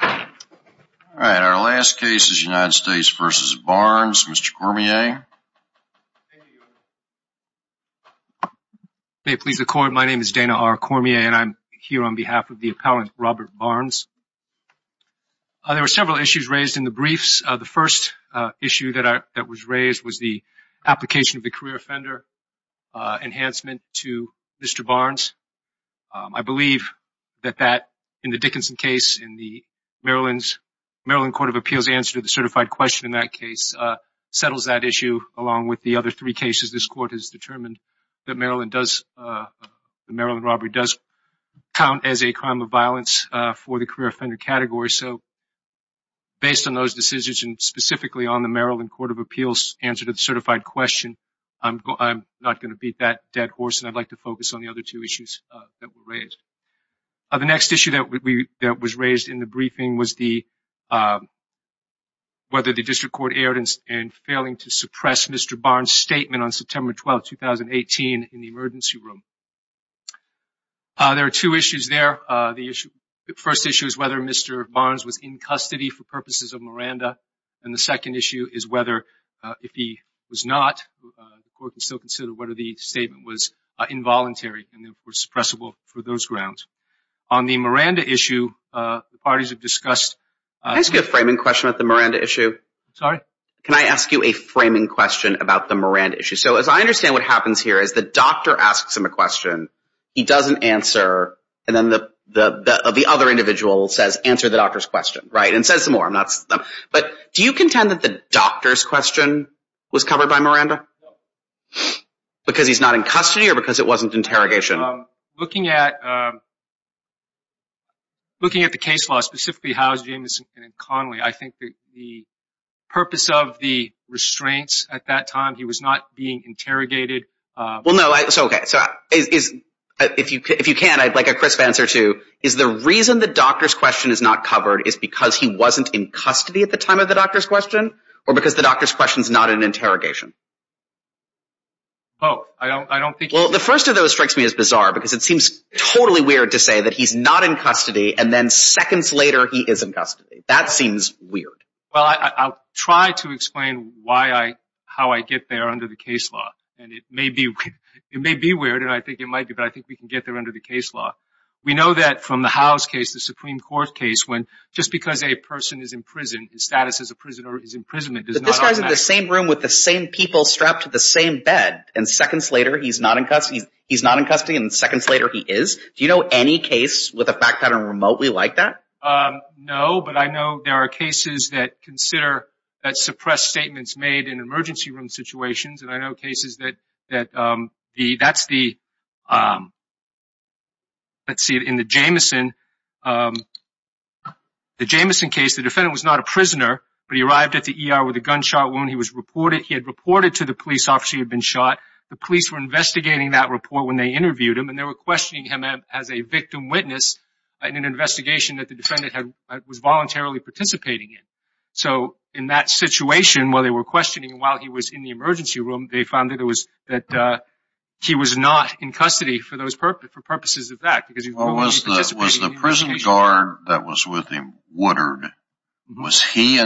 All right, our last case is United States v. Barnes. Mr. Cormier, may it please the court, my name is Dana R. Cormier and I'm here on behalf of the appellant Robert Barnes. There were several issues raised in the briefs. The first issue that I that was raised was the application of the career offender enhancement to Mr. Barnes. I believe that that in the Dickinson case in the Maryland Court of Appeals answer to the certified question in that case settles that issue along with the other three cases this court has determined that Maryland does, the Maryland robbery does count as a crime of violence for the career offender category. So based on those decisions and specifically on the Maryland Court of Appeals answer to the certified question, I'm not going to beat that dead horse and I'd like to focus on the other two issues that were raised. The next issue that was raised in the briefing was the whether the district court erred in failing to suppress Mr. Barnes statement on September 12, 2018 in the emergency room. There are two issues there. The first issue is whether Mr. Barnes was in custody for purposes of Miranda and the second issue is whether if he was not, the court can still consider whether the statement was involuntary and suppressible for those grounds. On the Miranda issue, the parties have discussed... Can I ask you a framing question about the Miranda issue? Sorry? Can I ask you a framing question about the Miranda issue? So as I understand what happens here is the doctor asks him a question, he doesn't answer and then the other individual says answer the doctor's question, right? And says some more. But do you contend that the doctor's question is not covered by Miranda? Because he's not in custody or because it wasn't interrogation? Looking at the case law, specifically Howe, Jamison and Connolly, I think the purpose of the restraints at that time, he was not being interrogated. Well no, it's okay. If you can, I'd like a crisp answer to is the reason the doctor's question is not covered is because he wasn't in custody at the time of the doctor's question or because the doctor's question is not an interrogation? Both. I don't think... Well the first of those strikes me as bizarre because it seems totally weird to say that he's not in custody and then seconds later he is in custody. That seems weird. Well I'll try to explain why I, how I get there under the case law and it may be, it may be weird and I think it might be but I think we can get there under the case law. We know that from the Howe's case, the Supreme Court case, when just because a person is in prison, his status as a people strapped to the same bed and seconds later he's not in custody, he's not in custody and seconds later he is. Do you know any case with a fact pattern remotely like that? No, but I know there are cases that consider that suppressed statements made in emergency room situations and I know cases that, that the, that's the, let's see, in the Jamison, the Jamison case, the defendant was not a prisoner but he arrived at the ER with a gunshot wound. He was reported, he had reported to the police officer he had been shot. The police were investigating that report when they interviewed him and they were questioning him as a victim witness in an investigation that the defendant had, was voluntarily participating in. So in that situation, while they were questioning him while he was in the emergency room, they found that it was, that he was not in custody for those purposes, for purposes of that because he was only participating in the investigation. Was the prison guard that was with him Woodard, was he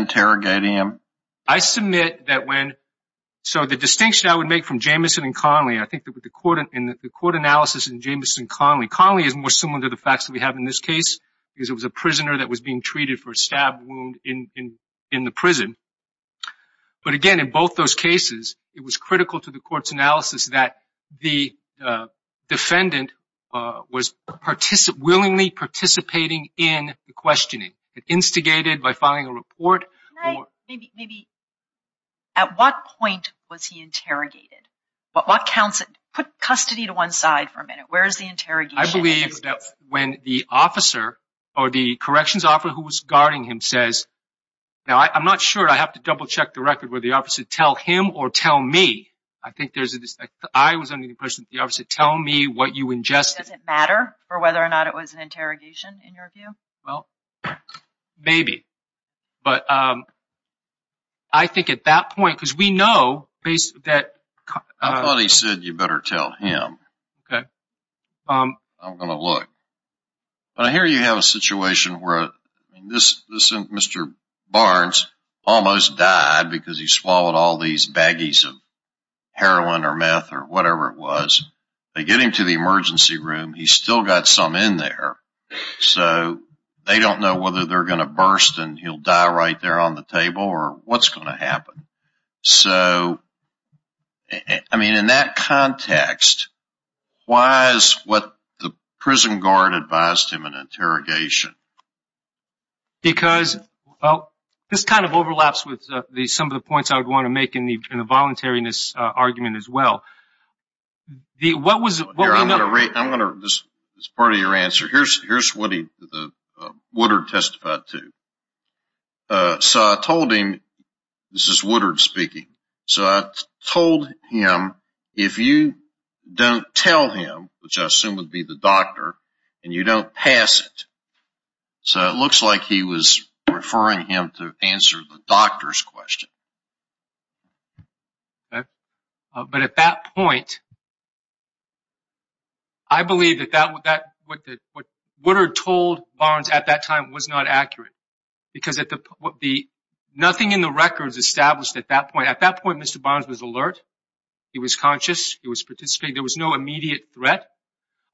So the distinction I would make from Jamison and Connelly, I think that with the court and the court analysis in Jamison and Connelly, Connelly is more similar to the facts that we have in this case because it was a prisoner that was being treated for a stab wound in, in the prison. But again, in both those cases, it was critical to the court's analysis that the defendant was participate, willingly participating in the questioning. It instigated by Can I, maybe, at what point was he interrogated? What counts, put custody to one side for a minute. Where is the interrogation? I believe that when the officer or the corrections officer who was guarding him says, now I'm not sure, I have to double check the record where the officer tell him or tell me. I think there's a, I was under the impression that the officer tell me what you ingested. Does it matter for whether or not it was an interrogation in your opinion? Well, maybe. But I think at that point, because we know, that I thought he said you better tell him. Okay. I'm going to look. But I hear you have a situation where this, this Mr. Barnes almost died because he swallowed all these baggies of heroin or meth or whatever it was. They get him to the they don't know whether they're going to burst and he'll die right there on the table or what's going to happen. So, I mean, in that context, why is what the prison guard advised him an interrogation? Because, well, this kind of overlaps with the, some of the points I would want to make in the, in the voluntariness argument as well. The, what was it? I'm going to, I'm going to, this is part of your answer. Here's, here's what he, Woodard testified to. So I told him, this is Woodard speaking. So I told him, if you don't tell him, which I assume would be the doctor, and you don't pass it. So it looks like he was referring him to answer the doctor's question. Okay. But at that point, I believe that that, that, what, what Woodard told Barnes at that time was not accurate. Because at the, what the, nothing in the records established at that point. At that point, Mr. Barnes was alert. He was conscious. He was participating. There was no immediate threat.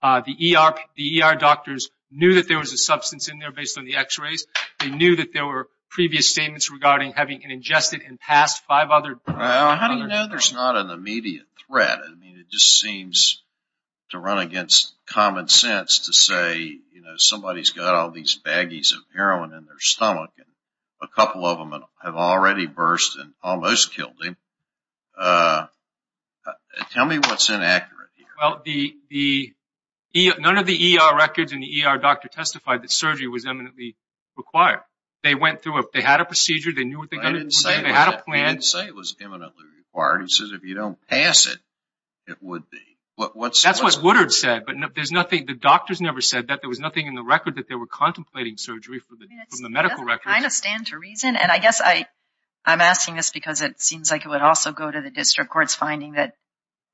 The ER, the ER doctors knew that there was a substance in there based on the x-rays. They knew that there were previous statements regarding having ingested and passed five other drugs. How do you know there's not an immediate threat? I mean, it just seems to run against common sense to say, you know, somebody's got all these baggies of heroin in their stomach and a couple of them have already burst and almost killed him. Tell me what's inaccurate here. Well, the, the, none of the ER records and the ER doctor testified that surgery was eminently required. They went through, they had a procedure. They knew what they were going to do. They didn't say it was eminently required. He says if you don't pass it, it would be. What, what's... That's what Woodard said, but there's nothing, the doctors never said that. There was nothing in the record that they were contemplating surgery from the medical records. I mean, it doesn't kind of stand to reason. And I guess I, I'm asking this because it seems like it would also go to the district court's finding that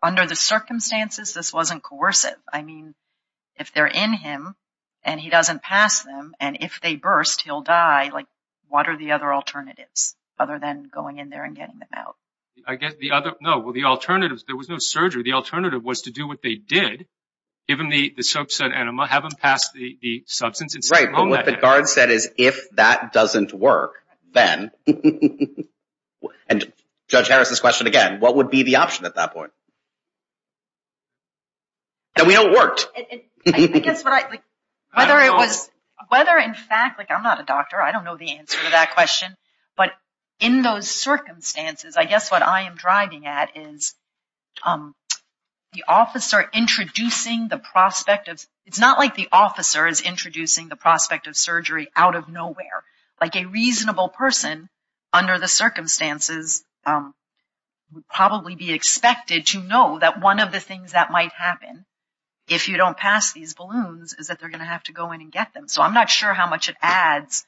under the circumstances, this wasn't coercive. I mean, if they're in him and he doesn't pass them and if they burst, he'll die. What are the other alternatives other than going in there and getting them out? I guess the other, no, well, the alternatives, there was no surgery. The alternative was to do what they did, give him the, the soap set enema, have him pass the, the substance. Right, but what the guard said is if that doesn't work, then, and Judge Harris's question again, what would be the option at that point? That we know it worked. I guess what I, whether it was, whether in fact, I'm not a doctor. I don't know the answer to that question, but in those circumstances, I guess what I am driving at is the officer introducing the prospect of, it's not like the officer is introducing the prospect of surgery out of nowhere. Like a reasonable person under the circumstances would probably be expected to know that one of the things that might happen if you don't pass these balloons is that they're going to have to go in and get them. So I'm not sure how much it adds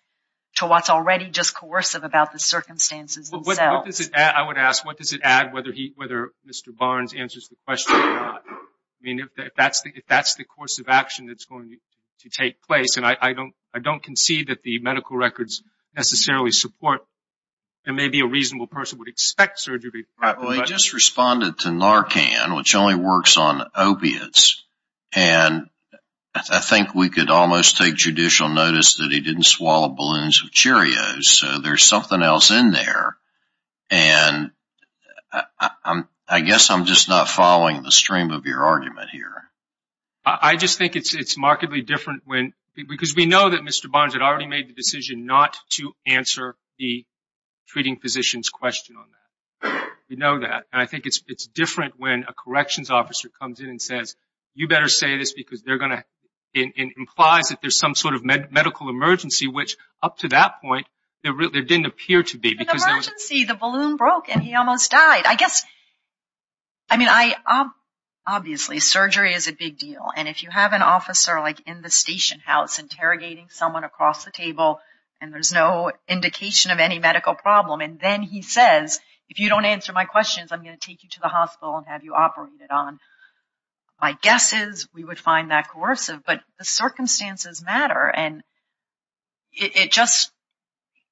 to what's already just coercive about the circumstances themselves. What does it add, I would ask, what does it add whether he, whether Mr. Barnes answers the question or not? I mean, if that's the, if that's the course of action that's going to take place, and I don't, I don't concede that the medical records necessarily support that maybe a reasonable person would expect surgery. Well, he just responded to Narcan, which only works on opiates. And I think we could almost take judicial notice that he didn't swallow balloons with Cheerios. So there's something else in there. And I guess I'm just not following the stream of your argument here. I just think it's, it's markedly different when, because we know that Mr. Barnes had already made the decision not to answer the treating physician's question on that. We know that. And I think it's, it's different when a corrections officer comes in and says, you better say this because they're going to, it implies that there's some sort of medical emergency, which up to that point, there really didn't appear to be. In the emergency, the balloon broke and he almost died. I guess, I mean, I, obviously surgery is a big deal. And if you have an officer like in the station house interrogating someone across the table, and there's no indication of any medical problem, and then he says, if you don't answer my questions, I'm going to take you to the hospital and have you operated on. My guess is we would find that coercive, but the circumstances matter. And it just,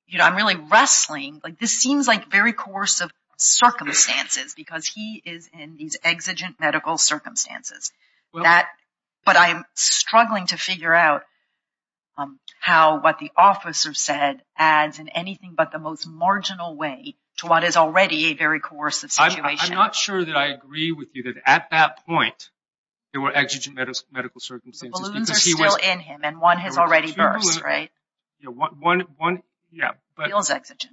you know, I'm really wrestling. Like this seems like very coercive circumstances because he is in these exigent medical circumstances that, but I'm struggling to figure out how, what the officer said adds in anything but the most marginal way to what is already a very coercive situation. I'm not sure that I agree with you that at that point, there were exigent medical circumstances. The balloons are still in him and one has already burst, right? Yeah, one, one, yeah, but. He was exigent.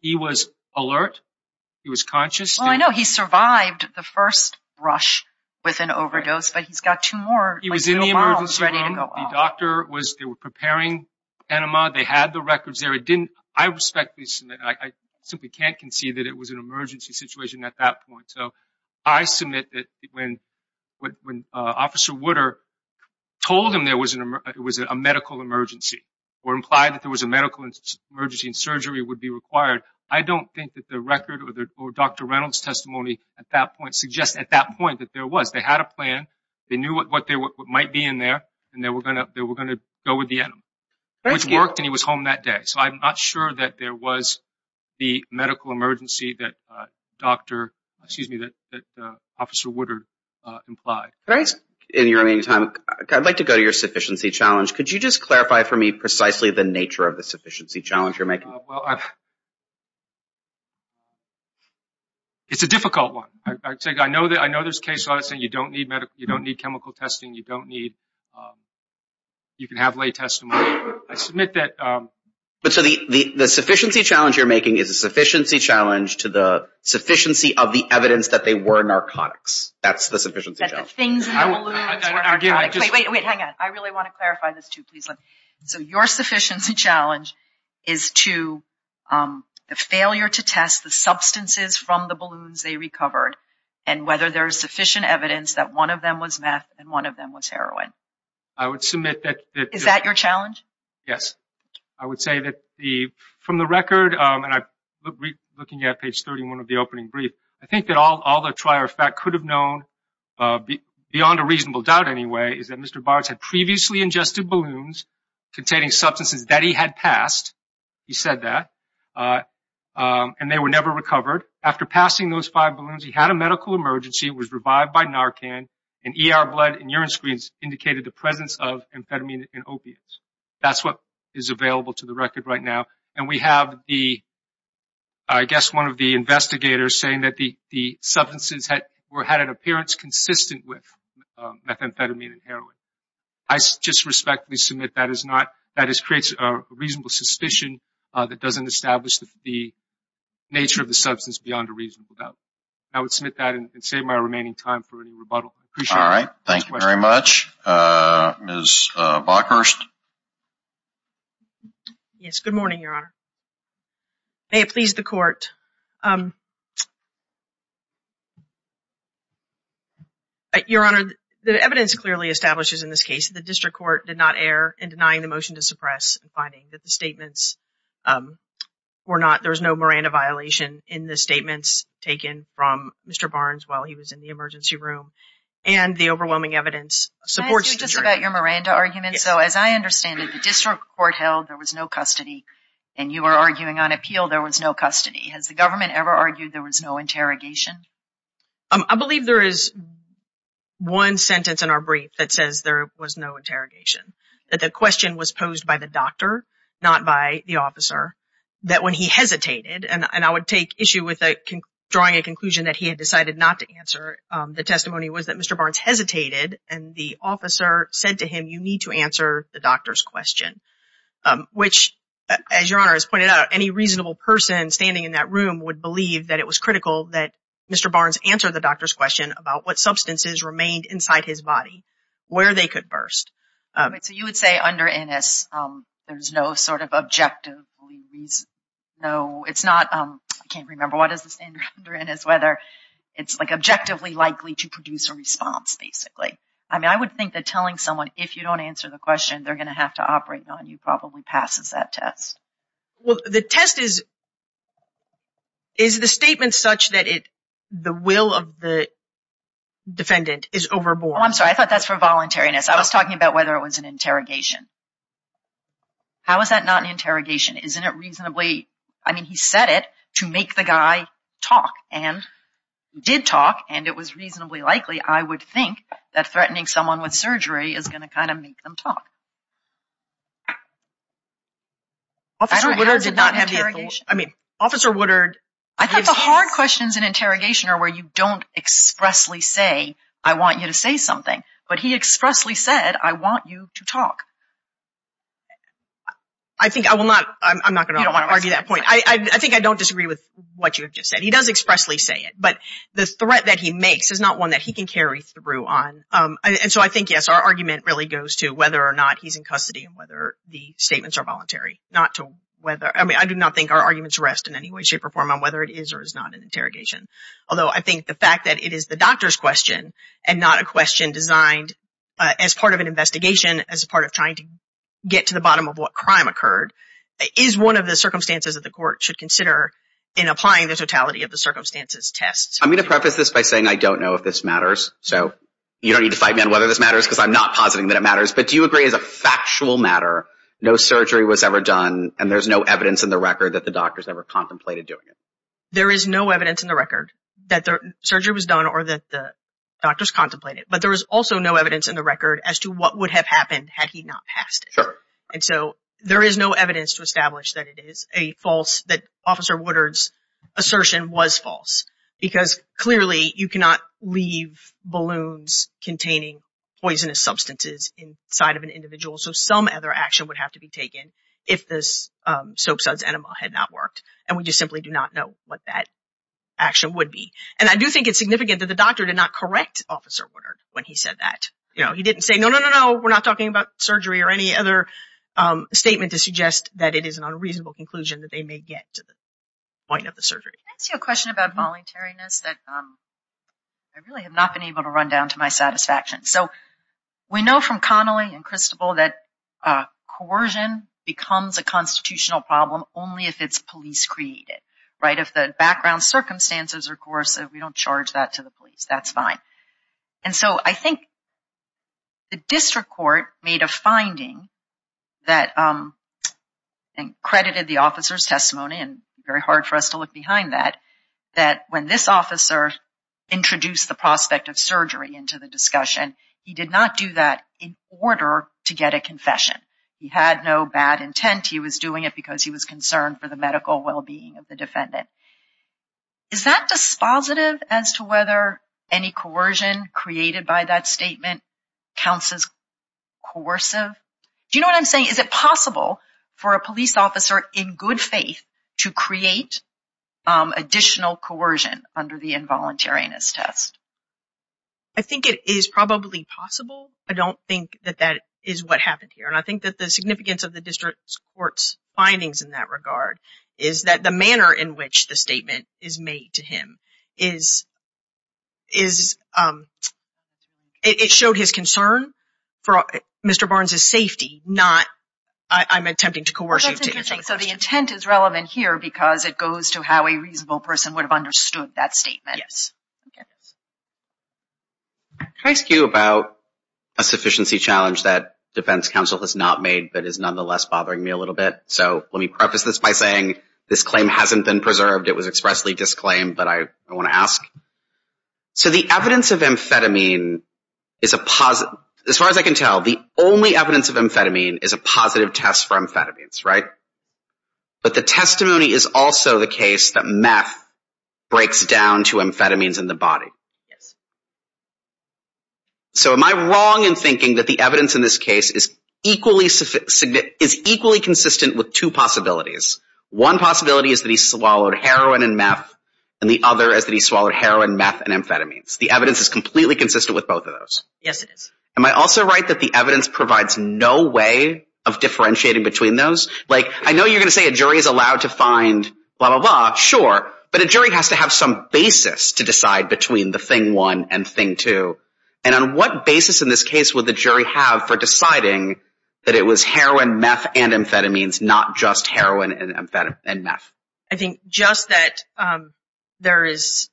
He was alert. He was conscious. Well, I know he survived the first rush with an overdose, but he's got two more. He was in the emergency room. The doctor was, they were preparing enema. They had the records there. It didn't, I respectfully submit, I simply can't concede that it was an emergency situation at that point. So, I submit that when, when Officer Wooder told him there was an, it was a medical emergency or implied that there was a medical emergency and surgery would be required. I don't think that the record or Dr. Reynolds' testimony at that point suggests at that point that there was, they had a plan. They knew what, what they were, what might be in there and they were going to, they were going to go with the enema, which worked and he was home that day. So, I'm not sure that there was the medical emergency that a doctor, excuse me, that, that Officer Woodard implied. In your remaining time, I'd like to go to your sufficiency challenge. Could you just clarify for me precisely the nature of the sufficiency challenge you're making? Well, it's a difficult one. I take, I know that, I know there's case you don't need medical, you don't need chemical testing. You don't need, you can have lay testimony. I submit that. But so, the, the, the sufficiency challenge you're making is a sufficiency challenge to the sufficiency of the evidence that they were narcotics. That's the sufficiency challenge. That the things in the balloons were narcotics. Wait, wait, wait, hang on. I really want to clarify this too. Please let me. So, your sufficiency challenge is to the failure to test the substances from the balloons they was meth and one of them was heroin. I would submit that. Is that your challenge? Yes. I would say that the, from the record, and I, looking at page 31 of the opening brief, I think that all, all the trier of fact could have known, beyond a reasonable doubt anyway, is that Mr. Bartz had previously ingested balloons containing substances that he had passed. He said that. And they were never recovered. After passing those five balloons, he had a medical emergency. It was revived by Narcan and ER blood and urine screens indicated the presence of amphetamine and opiates. That's what is available to the record right now. And we have the, I guess, one of the investigators saying that the, the substances had, or had an appearance consistent with methamphetamine and heroin. I just respectfully submit that is not, that is, creates a reasonable suspicion that doesn't establish the nature of the substance beyond a reasonable doubt. I would submit that and save my remaining time for any rebuttal. All right. Thank you very much. Ms. Bockhurst. Yes. Good morning, Your Honor. May it please the court. Your Honor, the evidence clearly establishes in this case that the district court did not err in denying the motion to suppress and finding that the statements were not, there was no Miranda violation in the statements taken from Mr. Barnes while he was in the emergency room. And the overwhelming evidence supports the jury. Can I ask you just about your Miranda argument? So as I understand it, the district court held there was no custody and you were arguing on appeal there was no custody. Has the government ever argued there was no interrogation? I believe there is one sentence in our brief that says there was no interrogation. That the and I would take issue with drawing a conclusion that he had decided not to answer. The testimony was that Mr. Barnes hesitated and the officer said to him, you need to answer the doctor's question, which as Your Honor has pointed out, any reasonable person standing in that room would believe that it was critical that Mr. Barnes answer the doctor's question about what substances remained inside his body, where they could burst. So you would say under Innis, there's no sort of reason. No, it's not. I can't remember what is the standard under Innis, whether it's like objectively likely to produce a response, basically. I mean, I would think that telling someone if you don't answer the question, they're going to have to operate on you probably passes that test. Well, the test is, is the statement such that it the will of the defendant is overboard? I'm sorry, I thought that's for voluntariness. I was talking about whether it was an interrogation. How is that not an interrogation? Isn't it reasonably, I mean, he said it to make the guy talk and did talk and it was reasonably likely I would think that threatening someone with surgery is going to kind of make them talk. Officer Woodard did not have the, I mean, Officer Woodard. I thought the hard questions in interrogation are where you don't expressly say, I want you to say that. I think I will not, I'm not going to argue that point. I think I don't disagree with what you've just said. He does expressly say it, but the threat that he makes is not one that he can carry through on. And so I think, yes, our argument really goes to whether or not he's in custody and whether the statements are voluntary, not to whether, I mean, I do not think our arguments rest in any way, shape or form on whether it is or is not an interrogation. Although I think the fact that it is the doctor's question and not a question designed as part of an investigation, as a part of trying to get to the bottom of what crime occurred, is one of the circumstances that the court should consider in applying the totality of the circumstances test. I'm going to preface this by saying I don't know if this matters. So you don't need to fight me on whether this matters because I'm not positing that it matters. But do you agree as a factual matter, no surgery was ever done and there's no evidence in the record that the doctors ever contemplated doing it? There is no evidence in the record that the surgery was done or that the doctors contemplated, but there is also no evidence in the record as to what would have happened had he not passed it. And so there is no evidence to establish that it is a false, that Officer Woodard's assertion was false because clearly you cannot leave balloons containing poisonous substances inside of an individual. So some other action would have to be taken if this soap suds enema had not worked and we just simply do not know what that action would be. And I do think it's significant that the doctor did not correct Officer Woodard when he said that. He didn't say, no, no, no, no, we're not talking about surgery or any other statement to suggest that it is an unreasonable conclusion that they may get to the point of the surgery. Can I ask you a question about voluntariness that I really have not been able to run down to my satisfaction. So we know from Connolly and Cristobal that coercion becomes a constitutional problem only if it's police created, right? If the background circumstances are coercive, we don't charge that to the police. That's fine. And so I think the district court made a finding that accredited the officer's testimony, and very hard for us to look behind that, that when this officer introduced the prospect of surgery into the discussion, he did not do that in order to get a confession. He had no bad intent. He was doing it because he was concerned for the medical well-being of the defendant. Is that dispositive as to whether any coercion created by that statement counts as coercive? Do you know what I'm saying? Is it possible for a police officer in good faith to create additional coercion under the involuntariness test? I think it is probably possible. I don't think that that is what happened here. And I think that the significance of the district court's findings in that regard is that the manner in which the statement is made to him is, it showed his concern for Mr. Barnes's safety, not, I'm attempting to coerce him. That's interesting. So the intent is relevant here because it goes to how a reasonable person would have understood that statement. Yes. Can I ask you about a sufficiency challenge that is nonetheless bothering me a little bit? So let me preface this by saying this claim hasn't been preserved. It was expressly disclaimed, but I want to ask. So the evidence of amphetamine is a positive, as far as I can tell, the only evidence of amphetamine is a positive test for amphetamines, right? But the testimony is also the case that meth breaks down to amphetamines in the equally consistent with two possibilities. One possibility is that he swallowed heroin and meth and the other is that he swallowed heroin, meth and amphetamines. The evidence is completely consistent with both of those. Yes, it is. Am I also right that the evidence provides no way of differentiating between those? Like I know you're going to say a jury is allowed to find blah, blah, blah. Sure. But a jury has to have some basis to decide between the thing one and two. And on what basis in this case would the jury have for deciding that it was heroin, meth and amphetamines, not just heroin and meth? I think just that there is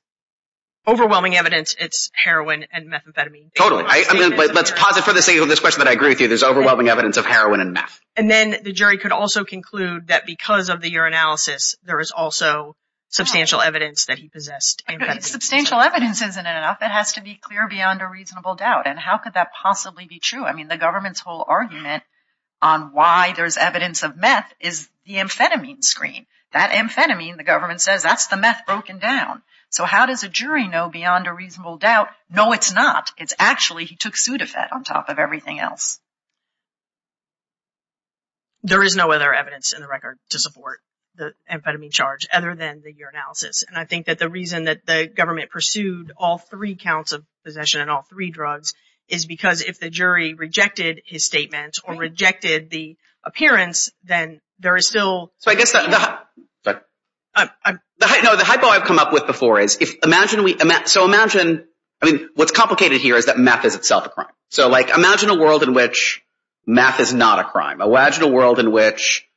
overwhelming evidence it's heroin and methamphetamine. Totally. Let's pause it for the sake of this question that I agree with you. There's overwhelming evidence of heroin and meth. And then the jury could also conclude that because of the urinalysis, there is also substantial evidence that he possessed. Substantial evidence isn't enough. It has to be clear beyond a reasonable doubt. And how could that possibly be true? I mean, the government's whole argument on why there's evidence of meth is the amphetamine screen. That amphetamine, the government says, that's the meth broken down. So how does a jury know beyond a reasonable doubt? No, it's not. It's actually he took Sudafed on top of everything else. There is no other evidence in the record to support the amphetamine charge other than the urinalysis. And I think that the reason that the government pursued all three counts of possession and all three drugs is because if the jury rejected his statement or rejected the appearance, then there is still. So I guess the hypo I've come up with before is if imagine we imagine. I mean, what's complicated here is that meth is itself a crime. So, like, imagine a world in which meth is not a crime. Imagine a world in which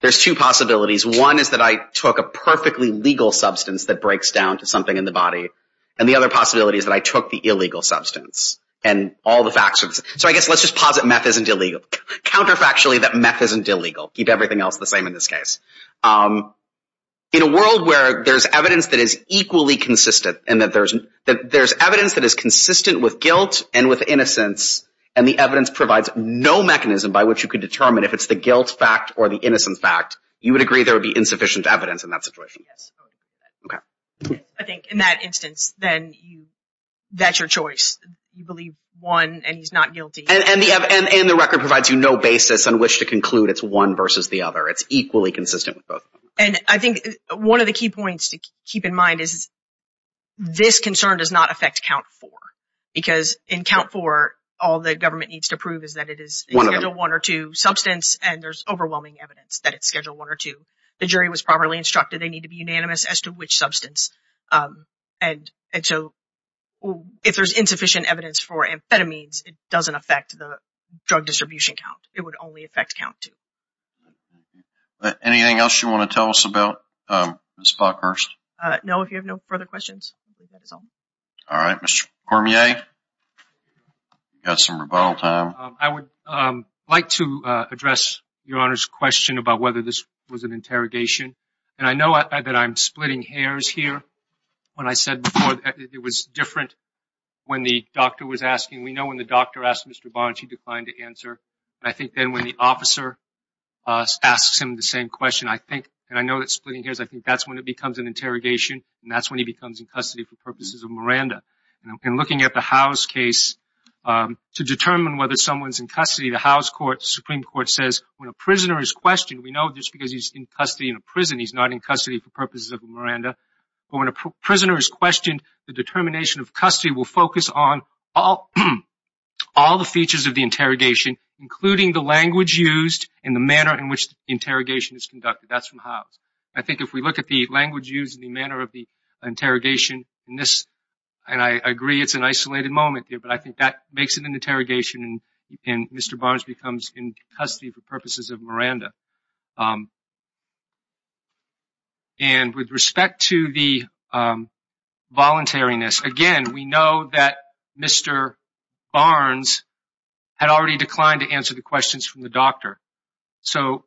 there's two possibilities. One is that I took a perfectly legal substance that breaks down to something in the body. And the other possibility is that I took the illegal substance and all the facts. So I guess let's just posit meth isn't illegal. Counterfactually, that meth isn't illegal. Keep everything else the same in this case. In a world where there's evidence that is equally consistent and that there's evidence that is consistent with guilt and with innocence, and the evidence provides no mechanism by which you could determine if it's the guilt fact or the innocence fact, you would agree there would be insufficient evidence in that situation. Yes, I would agree with that. I think in that instance, then that's your choice. You believe one and he's not guilty. And the record provides you no basis on which to conclude it's one versus the other. It's equally consistent with both. And I think one of the key points to keep in mind is this concern does not affect count four. Because in count four, all the government needs to prove is that it is one or two substance and there's overwhelming evidence that it's schedule one or two. The jury was properly instructed they need to be unanimous as to which substance. And so if there's insufficient evidence for amphetamines, it doesn't affect the drug distribution count. It would only affect count two. Anything else you want to tell us about, Ms. Buckhurst? No, if you have no further questions. All right, Mr. Cormier. You've got some rebuttal time. I would like to address Your Honor's question about whether this was an interrogation. And I know that I'm splitting hairs here. When I said before, it was different when the doctor was asking. We know when the doctor asked Mr. Barnes, he declined to answer. And I think then when the officer asks him the same question, I think, and I know that splitting hairs, I think that's when it becomes an interrogation. And that's when he becomes in custody for purposes of Miranda. In looking at the Howes case, to determine whether someone's in custody, the Howes Supreme Court says, when a prisoner is questioned, we know just because he's in custody in a prison, he's not in custody for purposes of Miranda. But when a prisoner is questioned, the determination of custody will focus on all the features of the interrogation, including the language used and the manner in which the interrogation is conducted. That's from Howes. I think if we look at the language used and the manner of the interrogation in this, and I agree it's an isolated moment here, but I think that makes it an interrogation and Mr. Barnes becomes in custody for purposes of Miranda. And with respect to the voluntariness, again, we know that Mr. Barnes had already declined to answer the questions from the doctor. So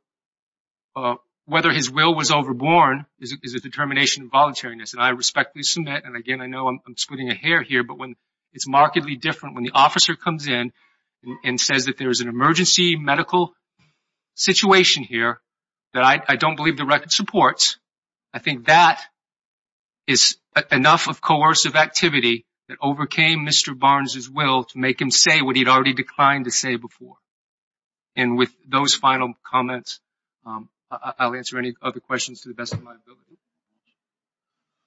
whether his will was overborne is a determination of voluntariness. And I respectfully submit, and again, I know I'm splitting a hair here, but when it's markedly different when the officer comes in and says that there is an emergency medical situation here that I don't believe the record supports, I think that is enough of coercive activity that overcame Mr. Barnes's will to make him say what he'd already declined to say before. And with those final comments, I'll answer any other questions to the best of my ability.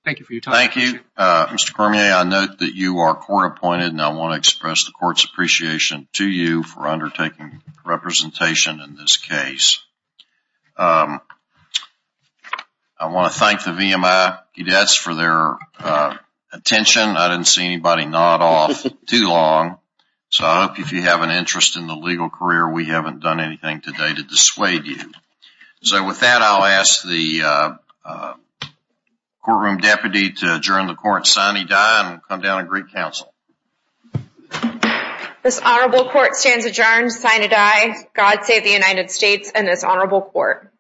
Thank you for your time. Thank you. Mr. Cormier, I note that you are court appointed and I want to express the court's appreciation to you for undertaking representation in this case. I want to thank the VMI cadets for their attention. I didn't see anybody nod off too long. So I hope you have an interest in the legal career. We haven't done anything today to dissuade you. So with that, I'll ask the courtroom deputy to adjourn the court sine die and come down and greet counsel. This honorable court stands adjourned sine die. God save the United States and this honorable court.